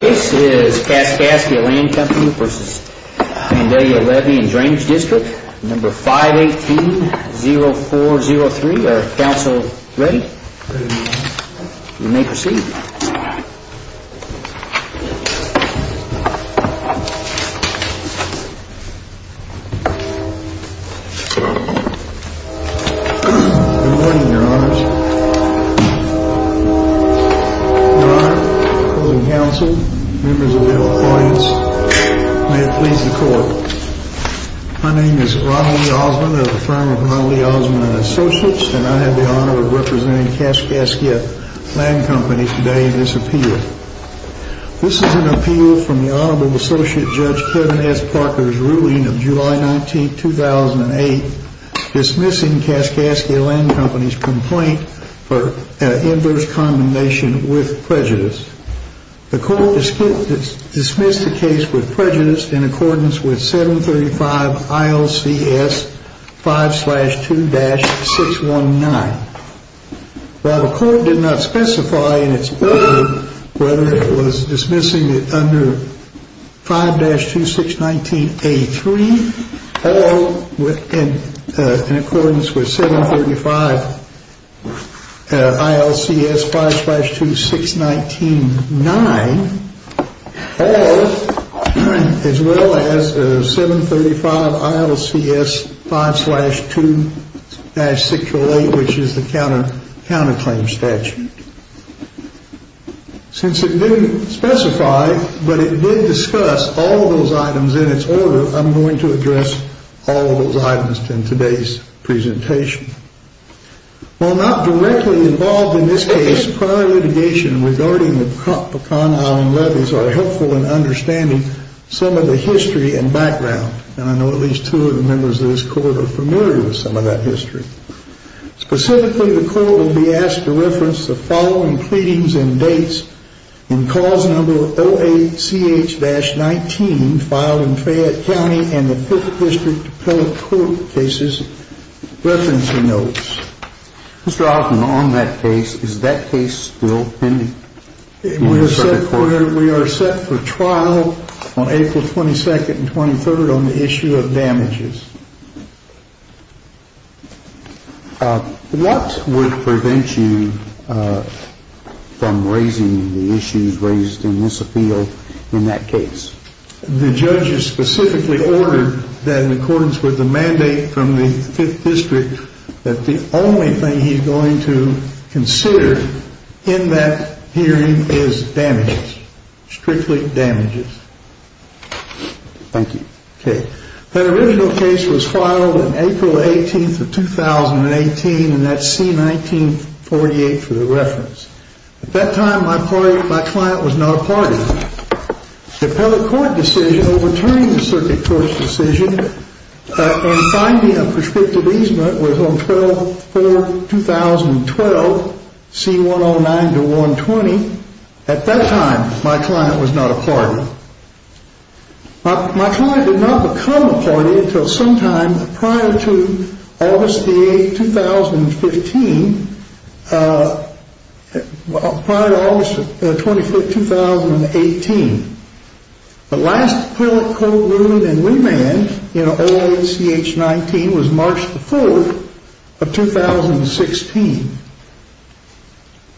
This is Kaskaskia Land Co. v. The Vandalia Levee and Drainage District, number 518-0403. Are counsel ready? Ready. You may proceed. Good morning, your honors. Your honor, coding counsel, members of the audience, may it please the court. My name is Ronald Lee Osmond of the firm of Ronald Lee Osmond & Associates, and I have the honor of representing Kaskaskia Land Co. today in this appeal. This is an appeal from the Honorable Associate Judge Kevin S. Parker's ruling of July 19, 2008, dismissing Kaskaskia Land Co.'s complaint for inverse condemnation with prejudice. The court dismissed the case with prejudice in accordance with 735 ILCS 5-2-619. While the court did not specify in its ruling whether it was dismissing it under 5-2-619-A3 or in accordance with 735 ILCS 5-2-619-9 or as well as 735 ILCS 5-2-608, which is the counterclaim statute. Since it didn't specify, but it did discuss all of those items in its order, I'm going to address all of those items in today's presentation. While not directly involved in this case, prior litigation regarding the Pecan Island levees are helpful in understanding some of the history and background. And I know at least two of the members of this court are familiar with some of that history. Specifically, the court will be asked to reference the following pleadings and dates in Clause No. 08-CH-19 filed in Fayette County and the Fifth District Appellate Court Cases Referencing Notes. Mr. Alton, on that case, is that case still pending? We are set for trial on April 22nd and 23rd on the issue of damages. What would prevent you from raising the issues raised in this appeal in that case? The judge has specifically ordered that in accordance with the mandate from the Fifth District that the only thing he's going to consider in that hearing is damages. Strictly damages. Thank you. Okay. That original case was filed on April 18th of 2018 and that's C-19-48 for the reference. At that time, my client was not a party. The appellate court decision overturning the circuit court's decision and finding a prescriptive easement was on 12-04-2012, C-109-120. At that time, my client was not a party. My client did not become a party until sometime prior to August 8th, 2015, prior to August 25th, 2018. The last appellate court ruling and remand in 08-CH-19 was March 4th of 2016.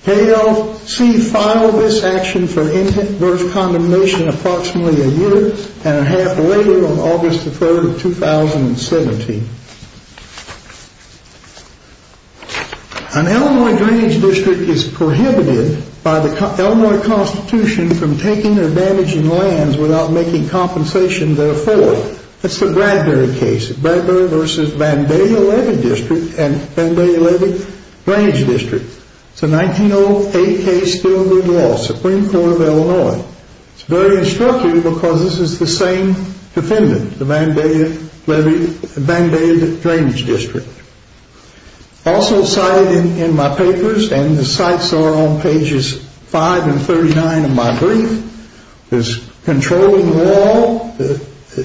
KLC filed this action for intent versus condemnation approximately a year and a half later on August 3rd of 2017. An Illinois drainage district is prohibited by the Illinois Constitution from taking or damaging lands without making compensation therefore. That's the Bradbury case. Bradbury v. Vandalia Levy District and Vandalia Levy Drainage District. It's a 1908 case filed in law, Supreme Court of Illinois. It's very instructive because this is the same defendant, the Vandalia Levy, Vandalia Drainage District. Also cited in my papers and the sites are on pages 5 and 39 of my brief, is controlling the wall.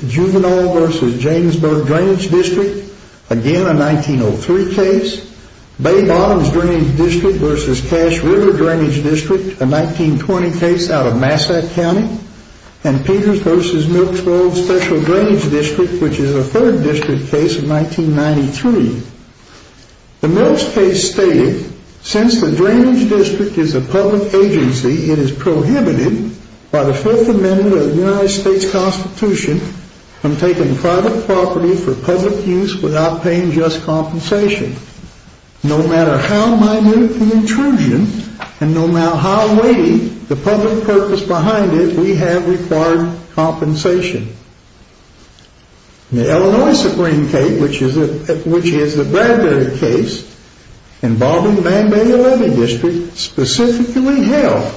Juvenile v. Janesburg Drainage District, again a 1903 case. Bay Bottoms Drainage District v. Cache River Drainage District, a 1920 case out of Massack County. And Peters v. Milk's World Special Drainage District, which is a 3rd district case of 1993. The Milk's case stated, since the drainage district is a public agency, it is prohibited by the Fifth Amendment of the United States Constitution from taking private property for public use without paying just compensation. No matter how minute the intrusion and no matter how weighty the public purpose behind it, we have required compensation. The Illinois Supreme Court, which is the Bradbury case involving the Vandalia Levy District, specifically held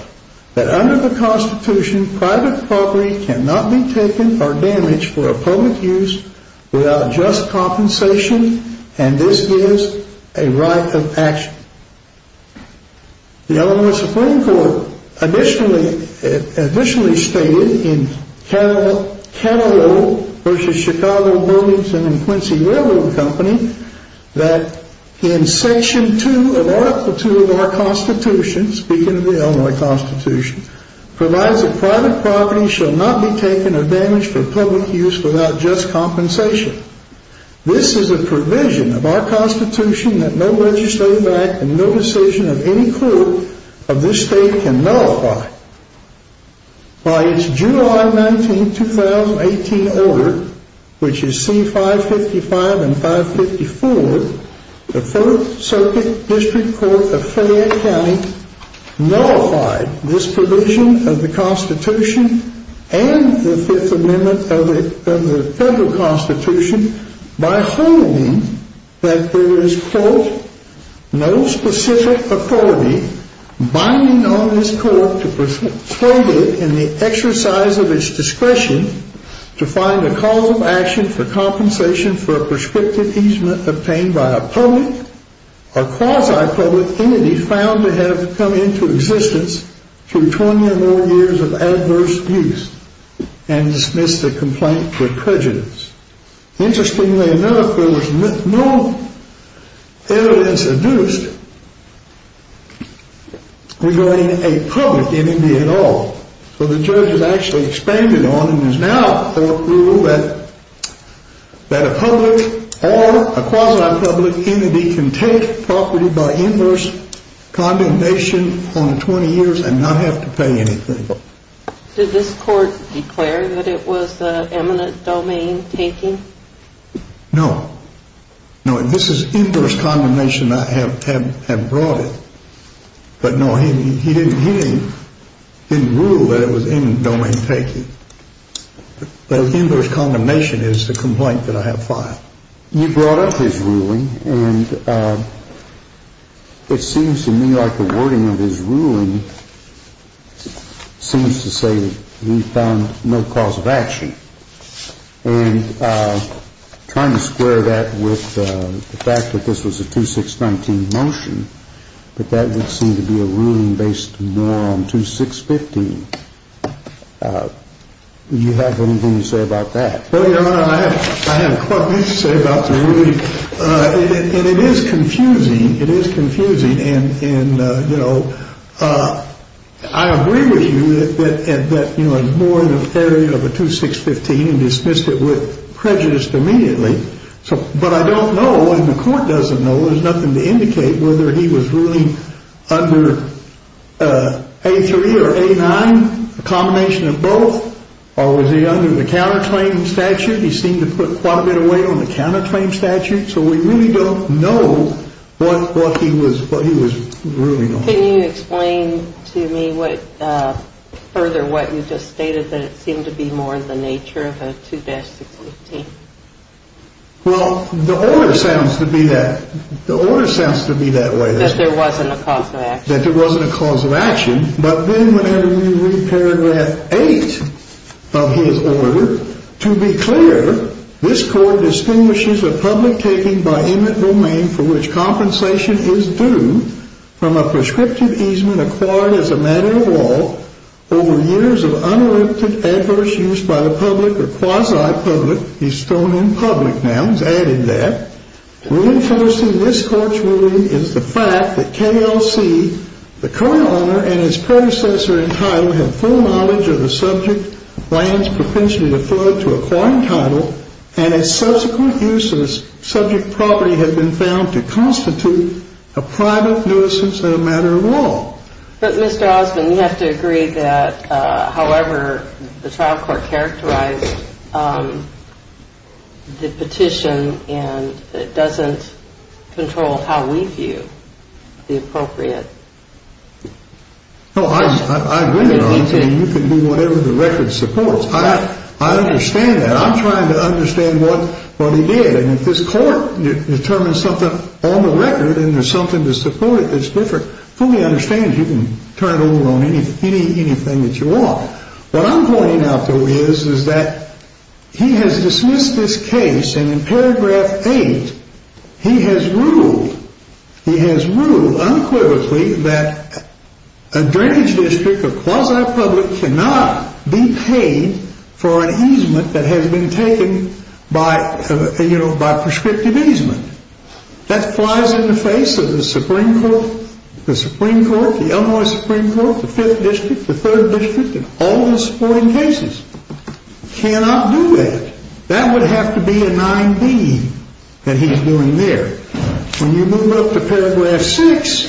that under the Constitution, private property cannot be taken or damaged for public use without just compensation and this gives a right of action. The Illinois Supreme Court additionally stated in Cadillac v. Chicago Burlington and Quincy Railroad Company, that in Section 2 of Article 2 of our Constitution, speaking of the Illinois Constitution, provides that private property shall not be taken or damaged for public use without just compensation. This is a provision of our Constitution that no legislative act and no decision of any court of this state can nullify. By its July 19, 2018 order, which is C-555 and 554, the Fourth Circuit District Court of Fayette County nullified this provision of the Constitution and the Fifth Amendment of the Federal Constitution by holding that there is, quote, no specific authority binding on this court to persuade it in the exercise of its discretion to find a cause of action for compensation for a prescriptive easement obtained by a public or quasi-public entity found to have come into existence through 20 or more years of adverse use and dismissed the complaint with prejudice. Interestingly enough, there was no evidence adduced regarding a public entity at all. So the judge has actually expanded on and has now approved that a public or a quasi-public entity can take property by inverse condemnation on 20 years and not have to pay anything. Did this court declare that it was eminent domain taking? No. No, this is inverse condemnation. I have brought it. But no, he didn't rule that it was eminent domain taking. But inverse condemnation is the complaint that I have filed. You brought up his ruling, and it seems to me like the wording of his ruling seems to say that he found no cause of action. And trying to square that with the fact that this was a 2-6-19 motion, that that would seem to be a ruling based more on 2-6-15, do you have anything to say about that? Well, Your Honor, I have a couple things to say about the ruling. And it is confusing. It is confusing. And, you know, I agree with you that it was more in the area of a 2-6-15 and dismissed it with prejudice immediately. But I don't know, and the court doesn't know, there's nothing to indicate whether he was ruling under A-3 or A-9, a combination of both, or was he under the counterclaim statute? He seemed to put quite a bit of weight on the counterclaim statute. So we really don't know what he was ruling on. Can you explain to me further what you just stated, that it seemed to be more the nature of a 2-6-15? Well, the order sounds to be that. The order sounds to be that way. That there wasn't a cause of action. But then whenever you read paragraph 8 of his order, to be clear, this court distinguishes a public taking by inmate domain for which compensation is due from a prescriptive easement acquired as a matter of law over years of uninterrupted adverse use by the public or quasi-public, he's throwing in public nouns, added that, reinforcing this court's ruling is the fact that KLC, the current owner and his predecessor in title, have full knowledge of the subject lands propensity to flow to acquiring title, and its subsequent use of subject property have been found to constitute a private nuisance and a matter of law. But, Mr. Osmond, you have to agree that, however, the trial court characterized the petition and it doesn't control how we view the appropriate. No, I agree with you. You can do whatever the record supports. I understand that. I'm trying to understand what he did. And if this court determines something on the record and there's something to support it that's different, fully understand you can turn it over on anything that you want. What I'm pointing out, though, is that he has dismissed this case and in paragraph 8 he has ruled, he has ruled unquivertly that a drainage district or quasi-public cannot be paid for an easement that has been taken by, you know, by prescriptive easement. That flies in the face of the Supreme Court, the Supreme Court, the Illinois Supreme Court, the Fifth District, the Third District, and all the supporting cases. Cannot do that. That would have to be a 9B that he's doing there. When you move up to paragraph 6,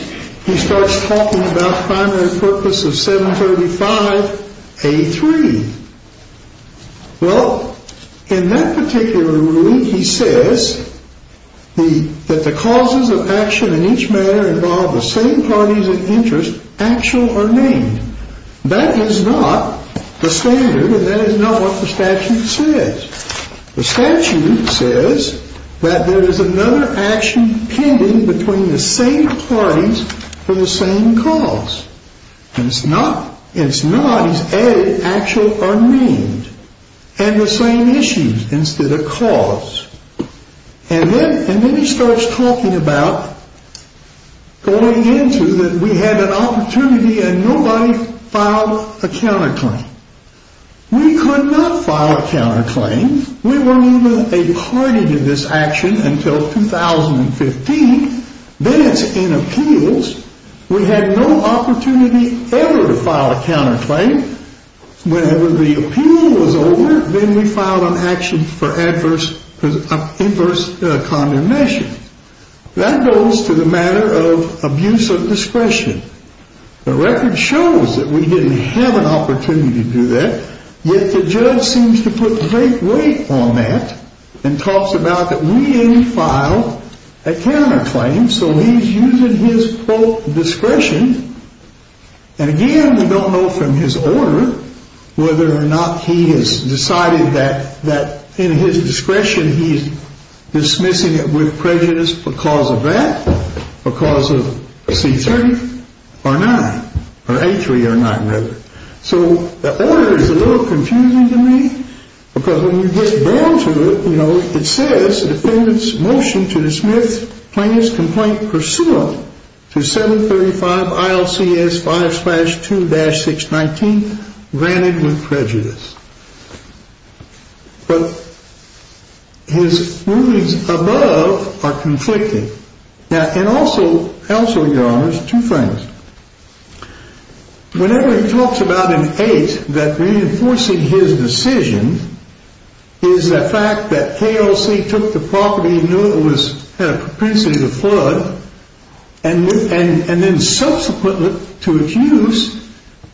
he starts talking about primary purpose of 735A3. Well, in that particular ruling he says that the causes of action in each manner involve the same parties in interest, actual or named. That is not the standard and that is not what the statute says. The statute says that there is another action pending between the same parties for the same cause. It's not. It's not. It's added actual or named. And the same issues instead of cause. And then he starts talking about going into that we had an opportunity and nobody filed a counterclaim. We could not file a counterclaim. We were only a party to this action until 2015. Then it's in appeals. We had no opportunity ever to file a counterclaim. Whenever the appeal was over, then we filed an action for adverse condemnation. That goes to the matter of abuse of discretion. The record shows that we didn't have an opportunity to do that. Yet the judge seems to put great weight on that and talks about that we didn't file a counterclaim. So he's using his full discretion. And again, we don't know from his order whether or not he has decided that that in his discretion, he's dismissing it with prejudice because of that, because of C3 or 9 or A3 or 9 rather. So the order is a little confusing to me because when you get down to it, you know, it says the defendant's motion to dismiss plaintiff's complaint pursuant to 735 ILCS 5 slash 2 dash 619 granted with prejudice. But his rulings above are conflicting. And also, your honors, two things. Whenever he talks about in 8 that reinforcing his decision is the fact that KLC took the property, knew it was propensity to flood, and then subsequently to its use,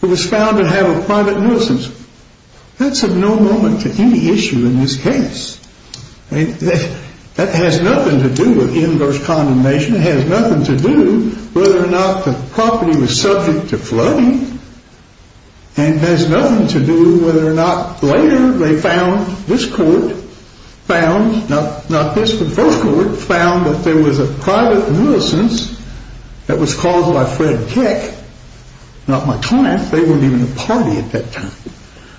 it was found to have a private nuisance. That's of no moment to any issue in this case. That has nothing to do with inverse condemnation. It has nothing to do whether or not the property was subject to flooding. And it has nothing to do whether or not later they found this court found, not this, the first court found that there was a private nuisance that was caused by Fred Keck, not McClatch. They weren't even a party at that time.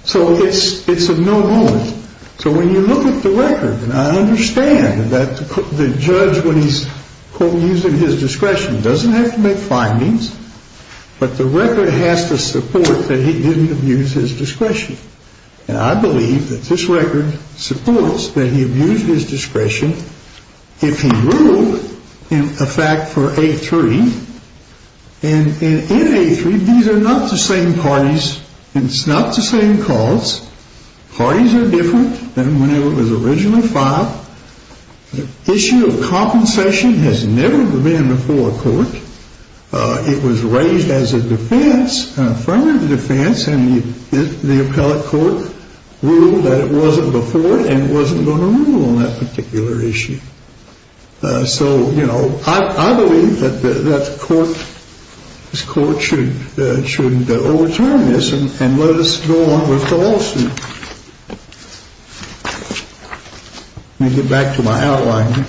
So it's of no moment. So when you look at the record, and I understand that the judge, when he's using his discretion, doesn't have to make findings. But the record has to support that he didn't abuse his discretion. And I believe that this record supports that he abused his discretion. If he ruled in effect for A3, and in A3, these are not the same parties. It's not the same cause. Parties are different than whenever it was originally filed. The issue of compensation has never been before a court. It was raised as a defense, affirmative defense, and the appellate court ruled that it wasn't before and wasn't going to rule on that particular issue. So, you know, I believe that the court, this court should overturn this and let us go on with the lawsuit. Let me get back to my outline.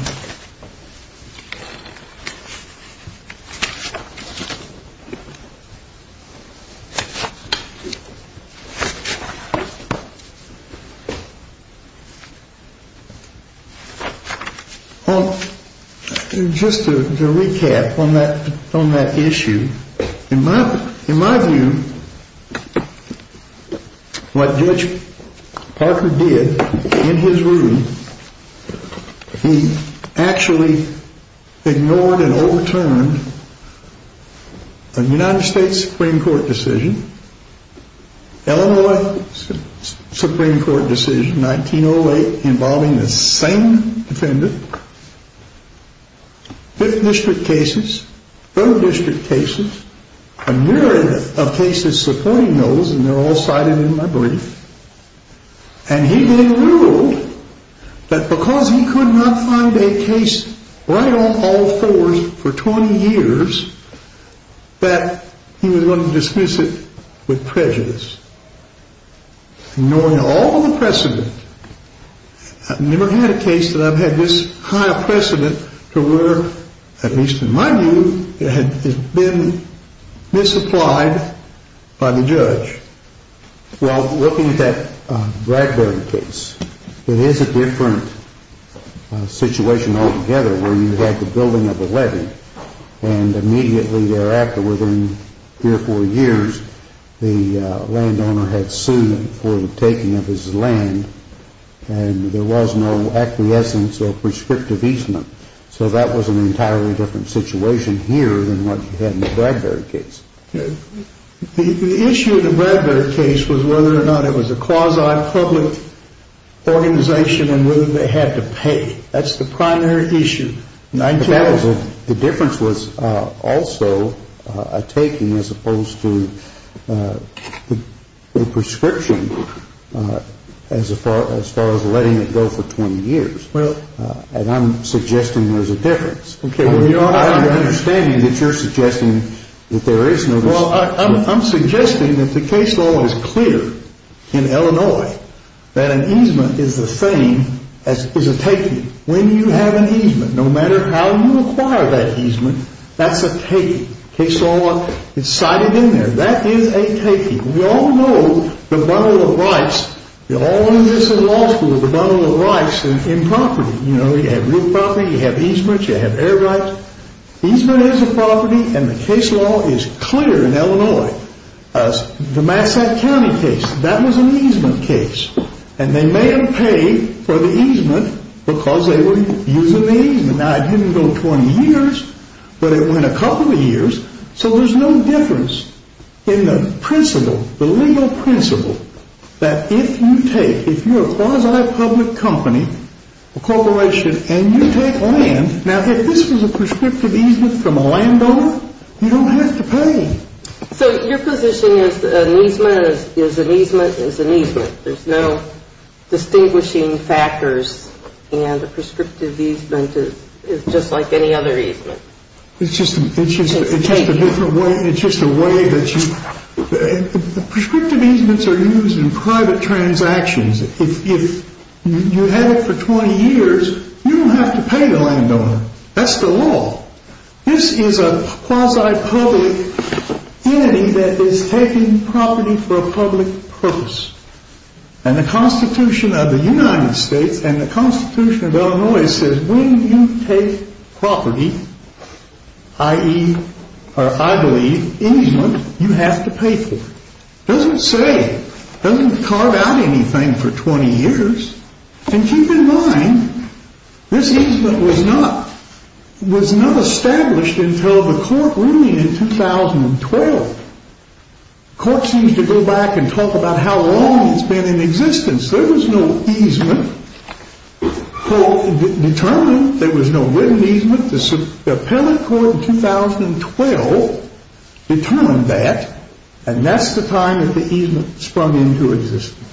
Well, just to recap on that issue, in my view, what Judge Parker did in his room, he actually ignored and overturned a new ruling. The United States Supreme Court decision, Illinois Supreme Court decision, 1908, involving the same defendant. Fifth district cases, third district cases, a myriad of cases supporting those, and they're all cited in my brief. And he then ruled that because he could not find a case right on all fours for 20 years, that he was going to dismiss it with prejudice. Knowing all the precedent, I've never had a case that I've had this kind of precedent to where, at least in my view, it had been misapplied by the judge. Well, looking at that Bradbury case, it is a different situation altogether where you had the building of a levy, and immediately thereafter, within three or four years, the landowner had sued him for the taking of his land, and there was no acquiescence or prescriptive easement. So that was an entirely different situation here than what you had in the Bradbury case. The issue of the Bradbury case was whether or not it was a quasi-public organization and whether they had to pay. That's the primary issue. The difference was also a taking as opposed to a prescription as far as letting it go for 20 years. And I'm suggesting there's a difference. I understand that you're suggesting that there is no difference. Well, I'm suggesting that the case law is clear in Illinois that an easement is the same as a taking. When you have an easement, no matter how you acquire that easement, that's a taking. Case law, it's cited in there. That is a taking. We all know the bundle of rights. We all knew this in law school, the bundle of rights in property. You know, you have real property, you have easement, you have air rights. Easement is a property, and the case law is clear in Illinois. The Massachusetts County case, that was an easement case, and they may have paid for the easement because they were using the easement. Now, it didn't go 20 years, but it went a couple of years. So there's no difference in the principle, the legal principle, that if you take, if you're a quasi-public company, a corporation, and you take land, now, if this was a prescriptive easement from a landowner, you don't have to pay. So your position is an easement is an easement is an easement. There's no distinguishing factors, and a prescriptive easement is just like any other easement. It's just a different way, it's just a way that you, prescriptive easements are used in private transactions. If you have it for 20 years, you don't have to pay the landowner. That's the law. This is a quasi-public entity that is taking property for a public purpose. And the Constitution of the United States and the Constitution of Illinois says when you take property, i.e., or I believe, easement, you have to pay for it. It doesn't say, it doesn't carve out anything for 20 years. And keep in mind, this easement was not, was not established until the court ruling in 2012. The court seems to go back and talk about how long it's been in existence. There was no easement determined. There was no written easement. The appellate court in 2012 determined that, and that's the time that the easement sprung into existence.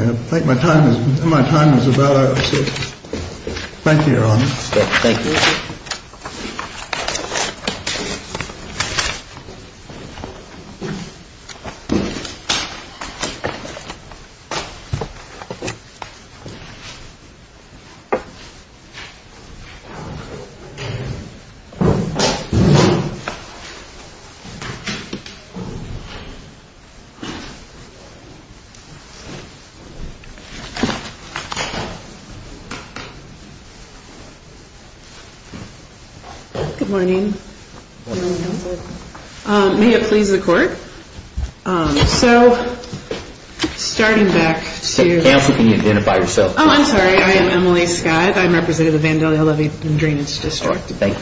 I think my time is about up. Thank you, Your Honor. Thank you. Good morning. Good morning, counsel. May it please the court. So, starting back to... Counsel, can you identify yourself, please? Oh, I'm sorry. I am Emily Scott. I'm representative of Vandalia Levy and Drainage District. Thank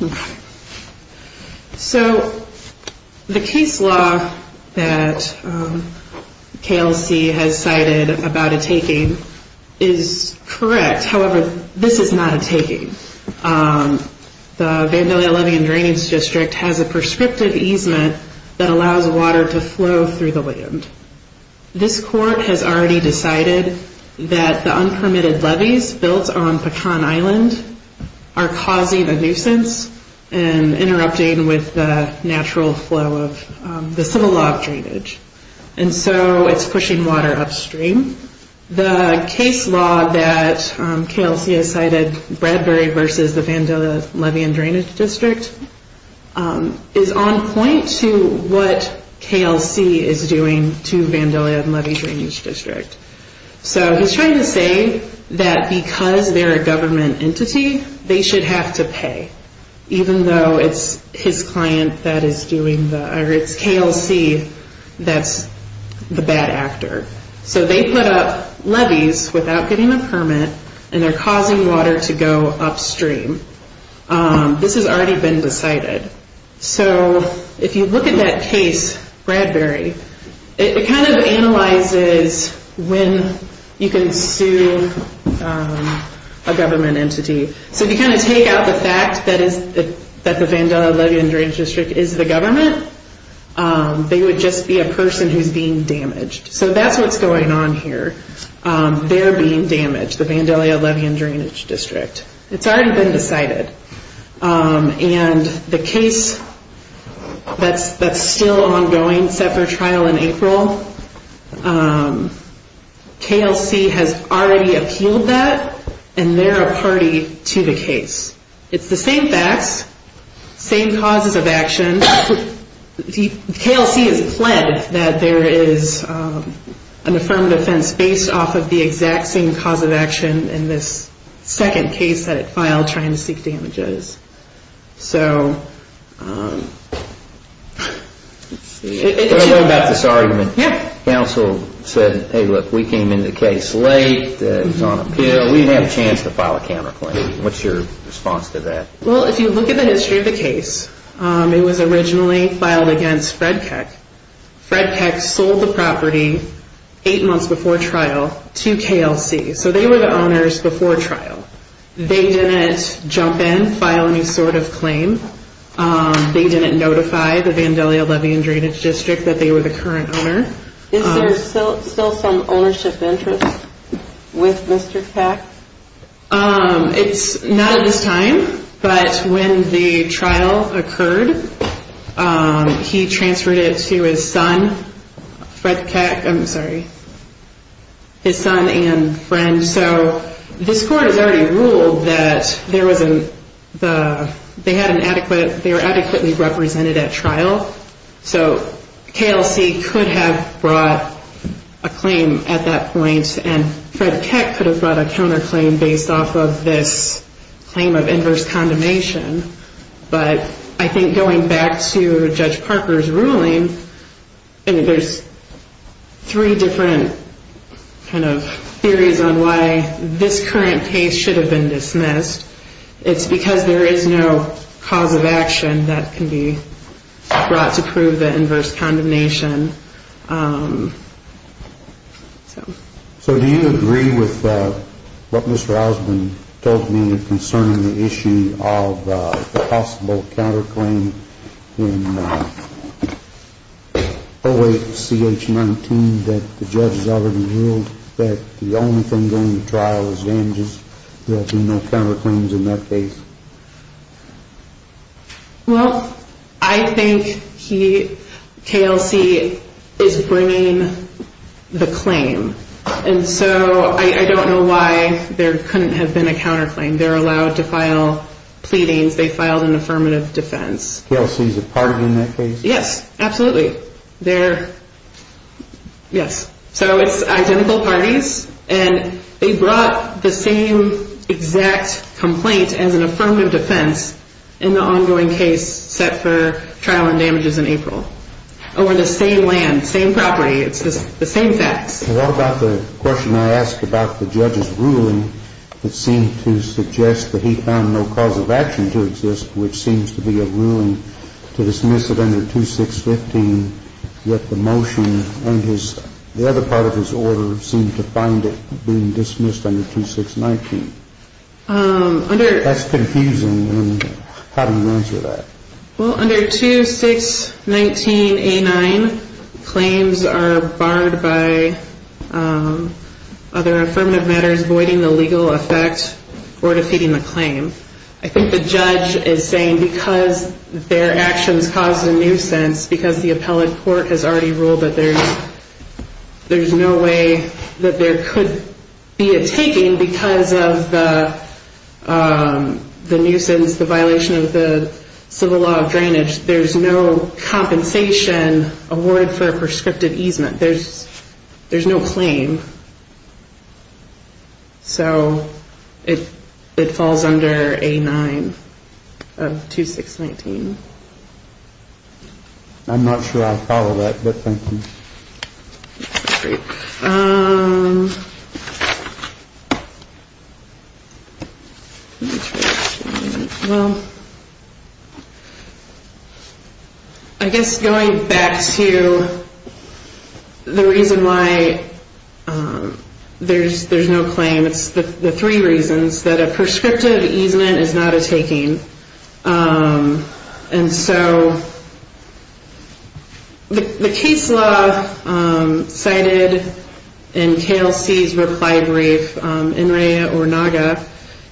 you. Okay. So, the case law that KLC has cited about a taking is correct. However, this is not a taking. The Vandalia Levy and Drainage District has a prescriptive easement that allows water to flow through the land. This court has already decided that the unpermitted levees built on Pecan Island are causing a nuisance and interrupting with the natural flow of the civil law of drainage. And so, it's pushing water upstream. The case law that KLC has cited, Bradbury versus the Vandalia Levy and Drainage District, is on point to what KLC is doing to Vandalia Levy and Drainage District. So, he's trying to say that because they're a government entity, they should have to pay, even though it's his client that is doing the...or it's KLC that's the bad actor. So, they put up levees without getting a permit, and they're causing water to go upstream. This has already been decided. So, if you look at that case, Bradbury, it kind of analyzes when you can sue a government entity. So, if you kind of take out the fact that the Vandalia Levy and Drainage District is the government, they would just be a person who's being damaged. So, that's what's going on here. They're being damaged, the Vandalia Levy and Drainage District. It's already been decided. And the case that's still ongoing, set for trial in April, KLC has already appealed that, and they're a party to the case. It's the same facts, same causes of action. KLC has pled that there is an affirmed offense based off of the exact same cause of action in this second case that it filed trying to seek damages. So... Let's see. Can I go back to this argument? Yeah. Counsel said, hey, look, we came into the case late, it was on appeal, we didn't have a chance to file a counterclaim. What's your response to that? Well, if you look at the history of the case, it was originally filed against Fred Keck. Fred Keck sold the property eight months before trial to KLC. So, they were the owners before trial. They didn't jump in, file any sort of claim. They didn't notify the Vandalia Levy and Drainage District that they were the current owner. Is there still some ownership interest with Mr. Keck? It's not at this time. But when the trial occurred, he transferred it to his son, Fred Keck. I'm sorry. His son and friend. So, this court has already ruled that they were adequately represented at trial. So, KLC could have brought a claim at that point. And Fred Keck could have brought a counterclaim based off of this claim of inverse condemnation. But I think going back to Judge Parker's ruling, there's three different kind of theories on why this current case should have been dismissed. It's because there is no cause of action that can be brought to prove the inverse condemnation. So, do you agree with what Mr. Osmond told me concerning the issue of the possible counterclaim in 08-CH-19 that the judge has already ruled that the only thing going to trial is damages? There will be no counterclaims in that case? Well, I think KLC is bringing the claim. And so, I don't know why there couldn't have been a counterclaim. They're allowed to file pleadings. They filed an affirmative defense. KLC is a party in that case? Yes, absolutely. They're, yes. So, it's identical parties. And they brought the same exact complaint as an affirmative defense in the ongoing case set for trial and damages in April. Over the same land, same property. It's just the same facts. What about the question I asked about the judge's ruling that seemed to suggest that he found no cause of action to exist, which seems to be a ruling to dismiss it under 2615, yet the motion and the other part of his order seem to find it being dismissed under 2619. That's confusing. How do you answer that? Well, under 2619A9, claims are barred by other affirmative matters voiding the legal effect or defeating the claim. I think the judge is saying because their actions caused a nuisance, because the appellate court has already ruled that there's no way that there could be a taking because of the nuisance, the violation of the civil law of drainage, there's no compensation awarded for a prescriptive easement. There's no claim. So it falls under A9 of 2619. I'm not sure I follow that, but thank you. I guess going back to the reason why there's no claim, it's the three reasons that a prescriptive easement is not a taking. And so the case law cited in KLC's reply brief,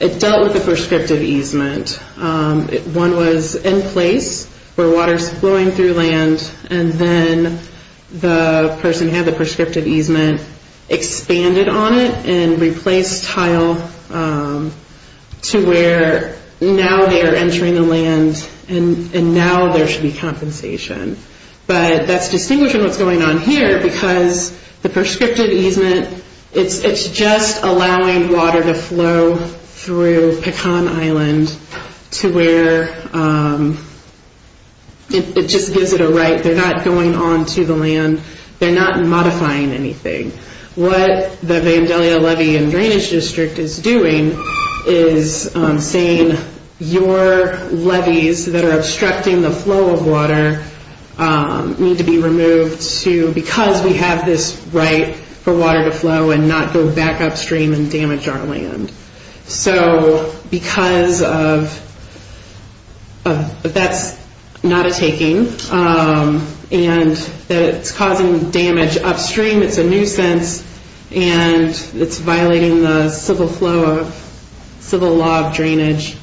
it dealt with the prescriptive easement. One was in place where water is flowing through land, and then the person had the prescriptive easement expanded on it and replaced tile to where now they are entering the land and now there should be compensation. But that's distinguishing what's going on here because the prescriptive easement, it's just allowing water to flow through Pecan Island to where it just gives it a right. They're not going on to the land. They're not modifying anything. What the Vandalia Levee and Drainage District is doing is saying, your levees that are obstructing the flow of water need to be removed because we have this right for water to flow and not go back upstream and damage our land. So because that's not a taking and it's causing damage upstream, it's a nuisance, and it's violating the civil law of drainage,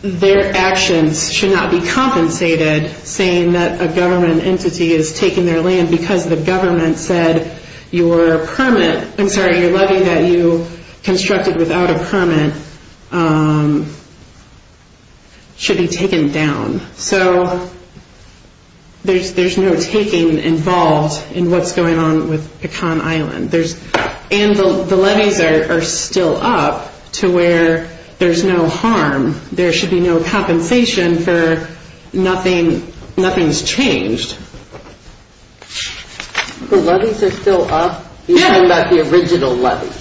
their actions should not be compensated saying that a government entity is taking their land because the government said your permit, I'm sorry, your levee that you constructed without a permit should be taken down. So there's no taking involved in what's going on with Pecan Island. And the levees are still up to where there's no harm. There should be no compensation for nothing's changed. The levees are still up? Yeah. You're talking about the original levees?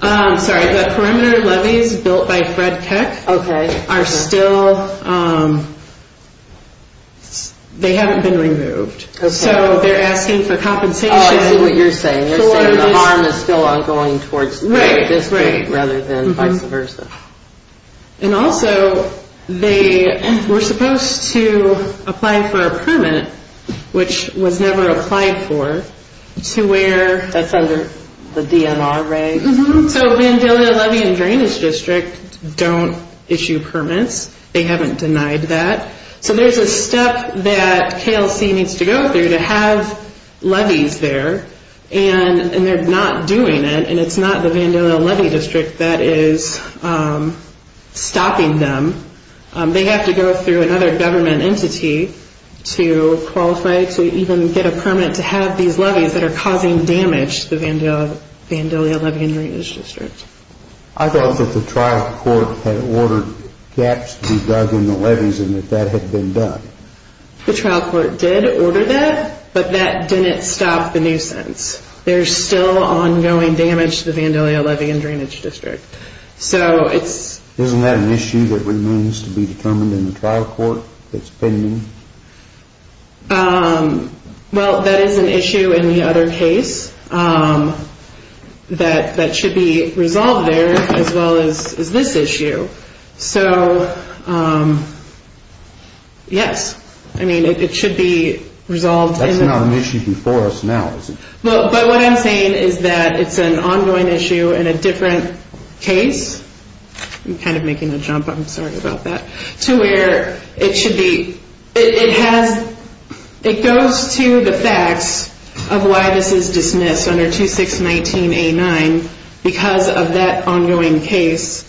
Sorry, the perimeter levees built by Fred Keck are still, they haven't been removed. So they're asking for compensation. Oh, I see what you're saying. You're saying the harm is still ongoing towards the district rather than vice versa. And also, they were supposed to apply for a permit, which was never applied for, to where? That's under the DMRA. So Vandalia Levee and Drainage District don't issue permits. They haven't denied that. So there's a step that KLC needs to go through to have levees there, and they're not doing it, and it's not the Vandalia Levee District that is stopping them. They have to go through another government entity to qualify to even get a permit to have these levees that are causing damage to the Vandalia Levee and Drainage District. I thought that the trial court had ordered gaps to be dug in the levees and that that had been done. The trial court did order that, but that didn't stop the nuisance. There's still ongoing damage to the Vandalia Levee and Drainage District. Isn't that an issue that remains to be determined in the trial court that's pending? Well, that is an issue in the other case that should be resolved there as well as this issue. So yes, I mean, it should be resolved. That's not an issue before us now, is it? Well, but what I'm saying is that it's an ongoing issue in a different case. I'm kind of making a jump. I'm sorry about that. To where it goes to the facts of why this is dismissed under 2619A9. Because of that ongoing case,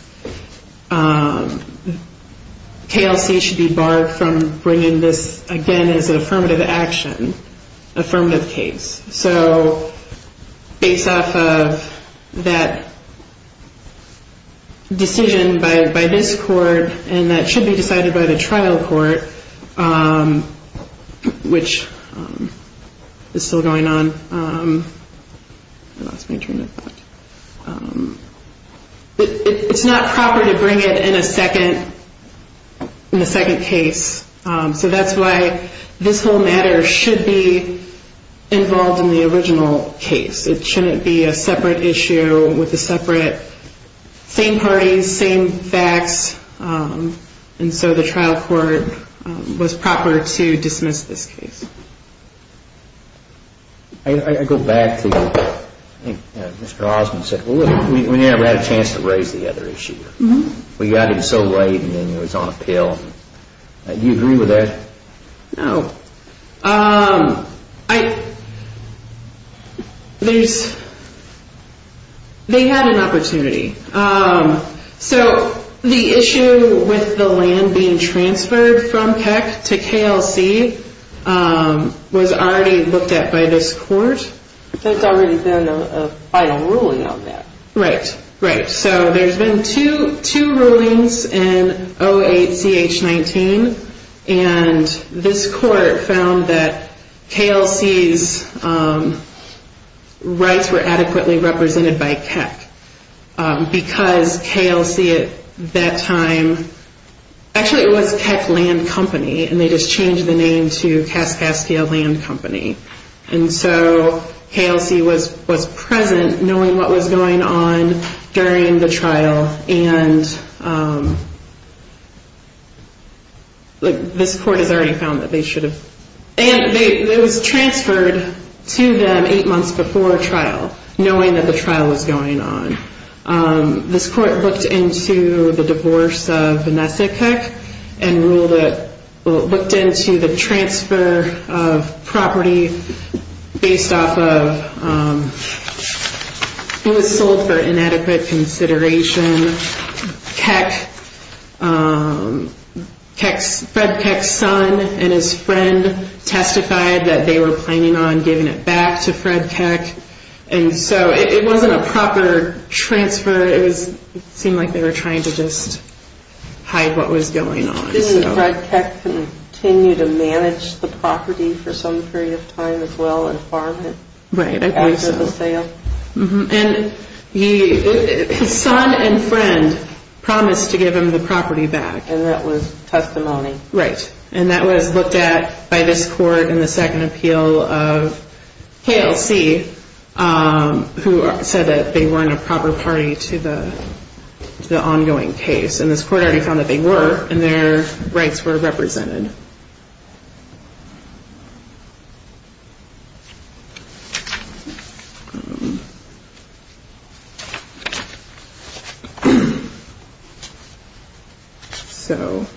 KLC should be barred from bringing this again as an affirmative action, affirmative case. So based off of that decision by this court, and that should be decided by the trial court, which is still going on. I lost my train of thought. It's not proper to bring it in a second case. So that's why this whole matter should be involved in the original case. It shouldn't be a separate issue with the separate same parties, same facts. And so the trial court was proper to dismiss this case. I go back to, I think Mr. Osmond said, we never had a chance to raise the other issue. We got it so late and then it was on appeal. Do you agree with that? No. They had an opportunity. So the issue with the land being transferred from Keck to KLC was already looked at by this court. There's already been a final ruling on that. Right, right. So there's been two rulings in 08-CH-19. And this court found that KLC's rights were adequately represented by Keck. Because KLC at that time, actually it was Keck Land Company, and they just changed the name to Kaskaskia Land Company. And so KLC was present knowing what was going on during the trial. And this court has already found that they should have. And it was transferred to them eight months before trial, knowing that the trial was going on. This court looked into the divorce of Vanessa Keck and looked into the transfer of property based off of, it was sold for inadequate consideration. Fred Keck's son and his friend testified that they were planning on giving it back to Fred Keck. And so it wasn't a proper transfer. It seemed like they were trying to just hide what was going on. Didn't Fred Keck continue to manage the property for some period of time as well and farm it? Right, I believe so. After the sale? And his son and friend promised to give him the property back. And that was testimony. Right. And that was looked at by this court in the second appeal of KLC, who said that they weren't a proper party to the ongoing case. And this court already found that they were, and their rights were represented. All right.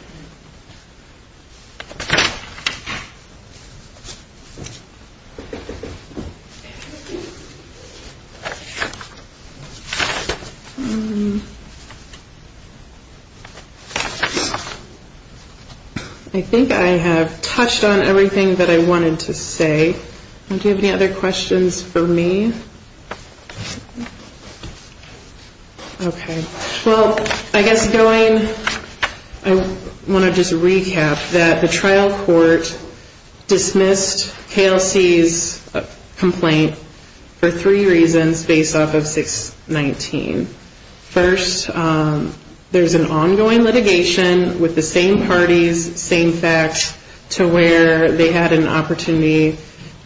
I think I have touched on everything that I wanted to say. Do you have any other questions for me? Okay. Well, I guess going, I want to just recap that the trial court dismissed KLC's complaint for three reasons based off of 619. First, there's an ongoing litigation with the same parties, same facts, to where they had an opportunity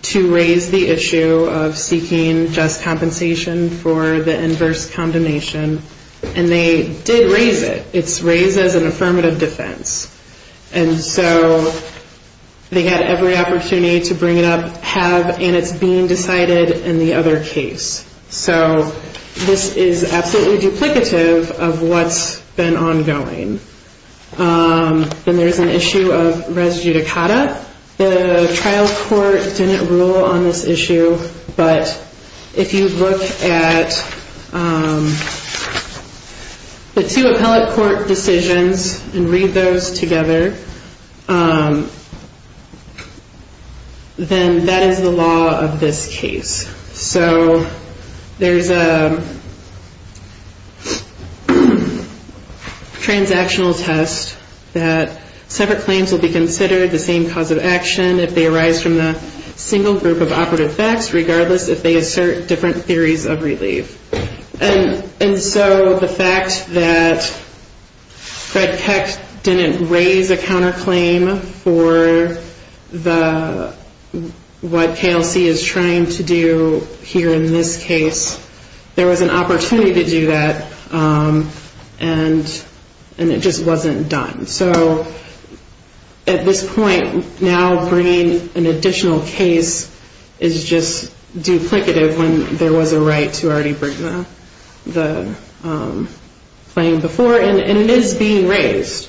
to raise the issue of seeking just compensation for the inverse condemnation. And they did raise it. It's raised as an affirmative defense. And so they had every opportunity to bring it up, have, and it's being decided in the other case. So this is absolutely duplicative of what's been ongoing. Then there's an issue of res judicata. The trial court didn't rule on this issue. But if you look at the two appellate court decisions and read those together, then that is the law of this case. So there's a transactional test that separate claims will be considered, the same cause of action, if they arise from the single group of operative facts, regardless if they assert different theories of relief. And so the fact that Fred Peck didn't raise a counterclaim for what KLC is trying to do here in this case, there was an opportunity to do that. And it just wasn't done. So at this point, now bringing an additional case is just duplicative when there was a right to already bring the claim before. And it is being raised.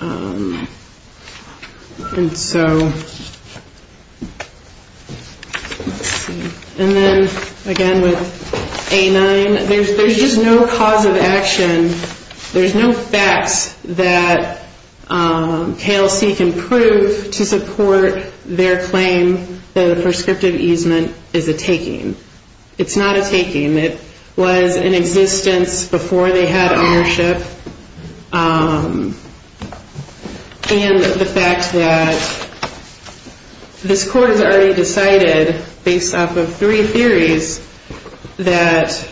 And so, and then again with A9, there's just no cause of action, there's no facts that KLC can prove to support their claim that a prescriptive easement is a taking. It's not a taking. It was in existence before they had ownership. And the fact that this court has already decided, based off of three theories, that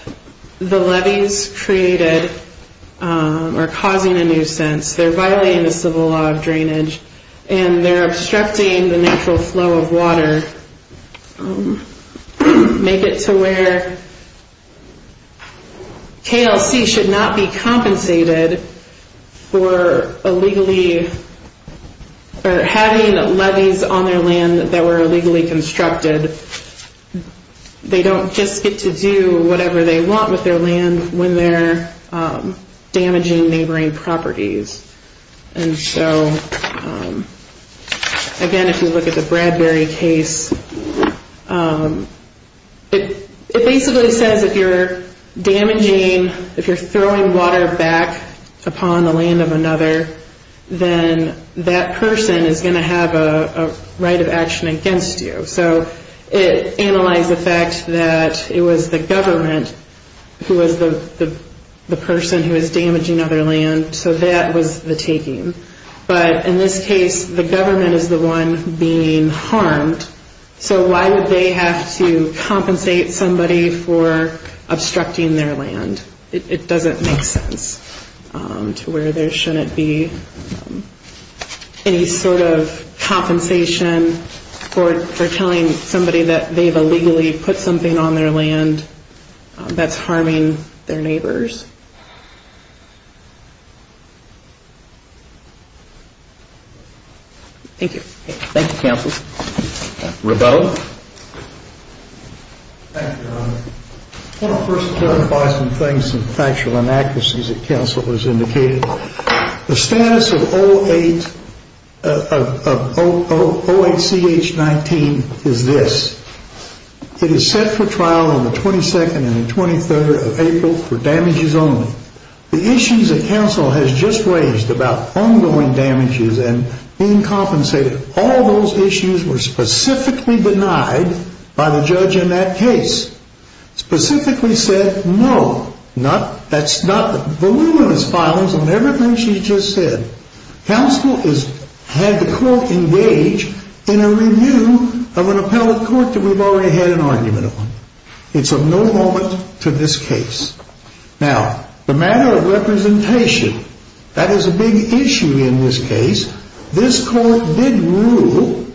the levies created are causing a nuisance. They're violating the civil law of drainage. And they're obstructing the natural flow of water. Make it to where KLC should not be compensated for illegally, or having levies on their land that were illegally constructed. They don't just get to do whatever they want with their land when they're damaging neighboring properties. And so, again if you look at the Bradbury case, it basically says if you're damaging, if you're throwing water back upon the land of another, then that person is going to have a right of action against you. So it analyzed the fact that it was the government who was the person who was damaging other land, so that was the taking. But in this case, the government is the one being harmed, so why would they have to compensate somebody for obstructing their land? It doesn't make sense to where there shouldn't be any sort of compensation for telling somebody that they've illegally put something on their land that's harming their neighbors. Thank you. Thank you, counsel. Rebecca? Thank you, Your Honor. I want to first clarify some things and factual inaccuracies that counsel has indicated. The status of 08CH19 is this. It is set for trial on the 22nd and the 23rd of April for damages only. The issues that counsel has just raised about ongoing damages and being compensated, all those issues were specifically denied by the judge in that case. Specifically said, no, that's not voluminous filings on everything she just said. Counsel has had the court engage in a review of an appellate court that we've already had an argument on. It's of no moment to this case. Now, the matter of representation, that is a big issue in this case. This court did rule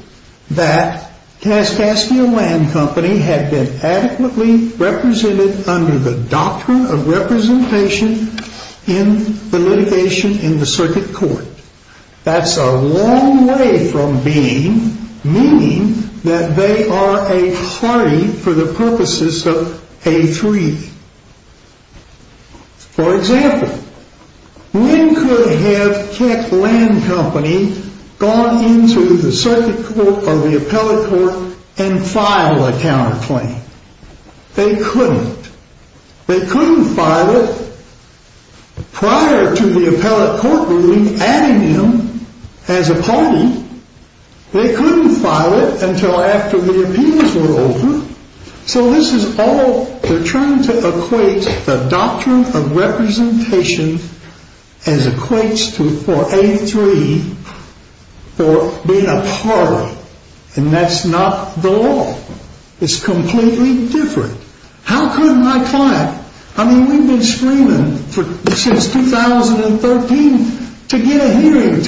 that Kaskaskia Land Company had been adequately represented under the doctrine of representation in the litigation in the circuit court. That's a long way from being, meaning that they are a party for the purposes of A3. For example, when could have Kaskaskia Land Company gone into the circuit court or the appellate court and filed a counterclaim? They couldn't. They couldn't file it prior to the appellate court ruling adding him as a party. They couldn't file it until after the appeals were over. So this is all, they're trying to equate the doctrine of representation as equates to for A3 for being a party. And that's not the law. It's completely different. How could my client, I mean we've been screaming since 2013 to get a hearing,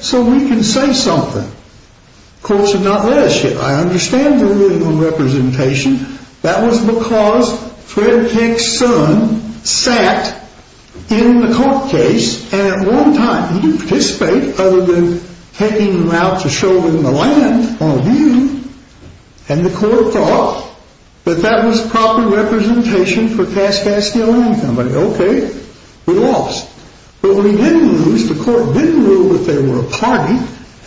so we can say something. The courts have not let us yet. I understand the ruling on representation. That was because Fred Peck's son sat in the court case and at one time he didn't participate other than taking him out to show him the land on a view. And the court thought that that was proper representation for Kaskaskia Land Company. Okay, we lost. But we didn't lose. The court didn't rule that they were a party.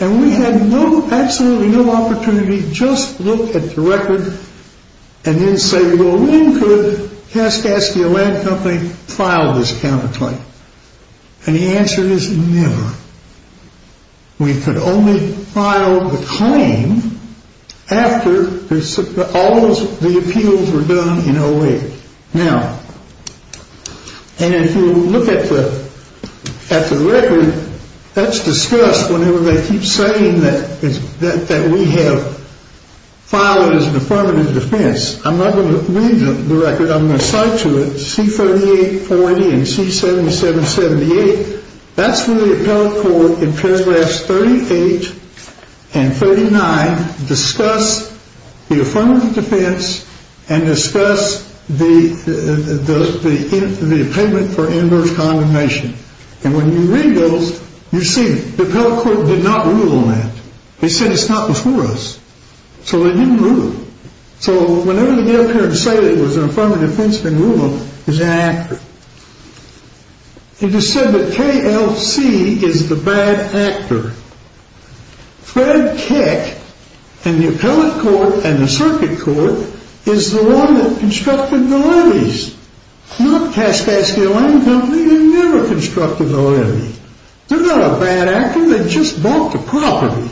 And we had no, absolutely no opportunity to just look at the record and then say well when could Kaskaskia Land Company file this counterclaim? And the answer is never. We could only file the claim after all the appeals were done in 08. Now, and if you look at the record, that's discussed whenever they keep saying that we have filed it as an affirmative defense. I'm not going to read the record. I'm going to cite to it C3840 and C7778. That's where the appellate court in paragraphs 38 and 39 discuss the affirmative defense and discuss the payment for inverse condemnation. And when you read those, you see the appellate court did not rule on that. They said it's not before us. So they didn't rule it. So whenever they get up here and say it was an affirmative defense, they rule it was inaccurate. It is said that KLC is the bad actor. Fred Keck and the appellate court and the circuit court is the one that constructed the lilies. Not Kaskaskia Land Company. They never constructed the lily. They're not a bad actor. They just bought the property.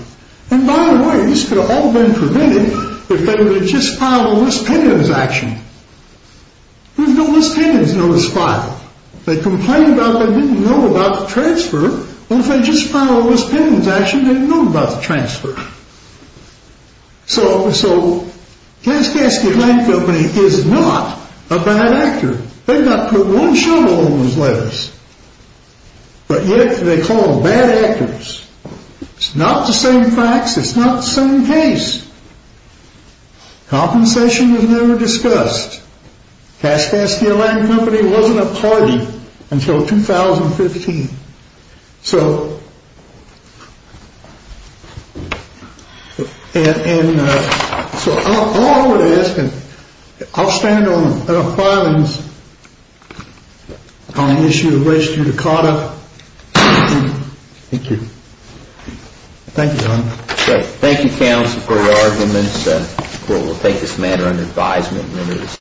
And by the way, this could have all been prevented if they would have just filed a misdemeanor action. There's no misdemeanors notice filed. They complained about they didn't know about the transfer. Well, if they just filed a misdemeanor action, they'd know about the transfer. So Kaskaskia Land Company is not a bad actor. They've not put one shovel on those letters. But yet they call them bad actors. It's not the same facts. It's not the same case. Compensation was never discussed. Kaskaskia Land Company wasn't a party until 2015. So I'll stand on the issue of race judicata. Thank you, John. Thank you, counsel, for your arguments. We'll take this matter under advisement.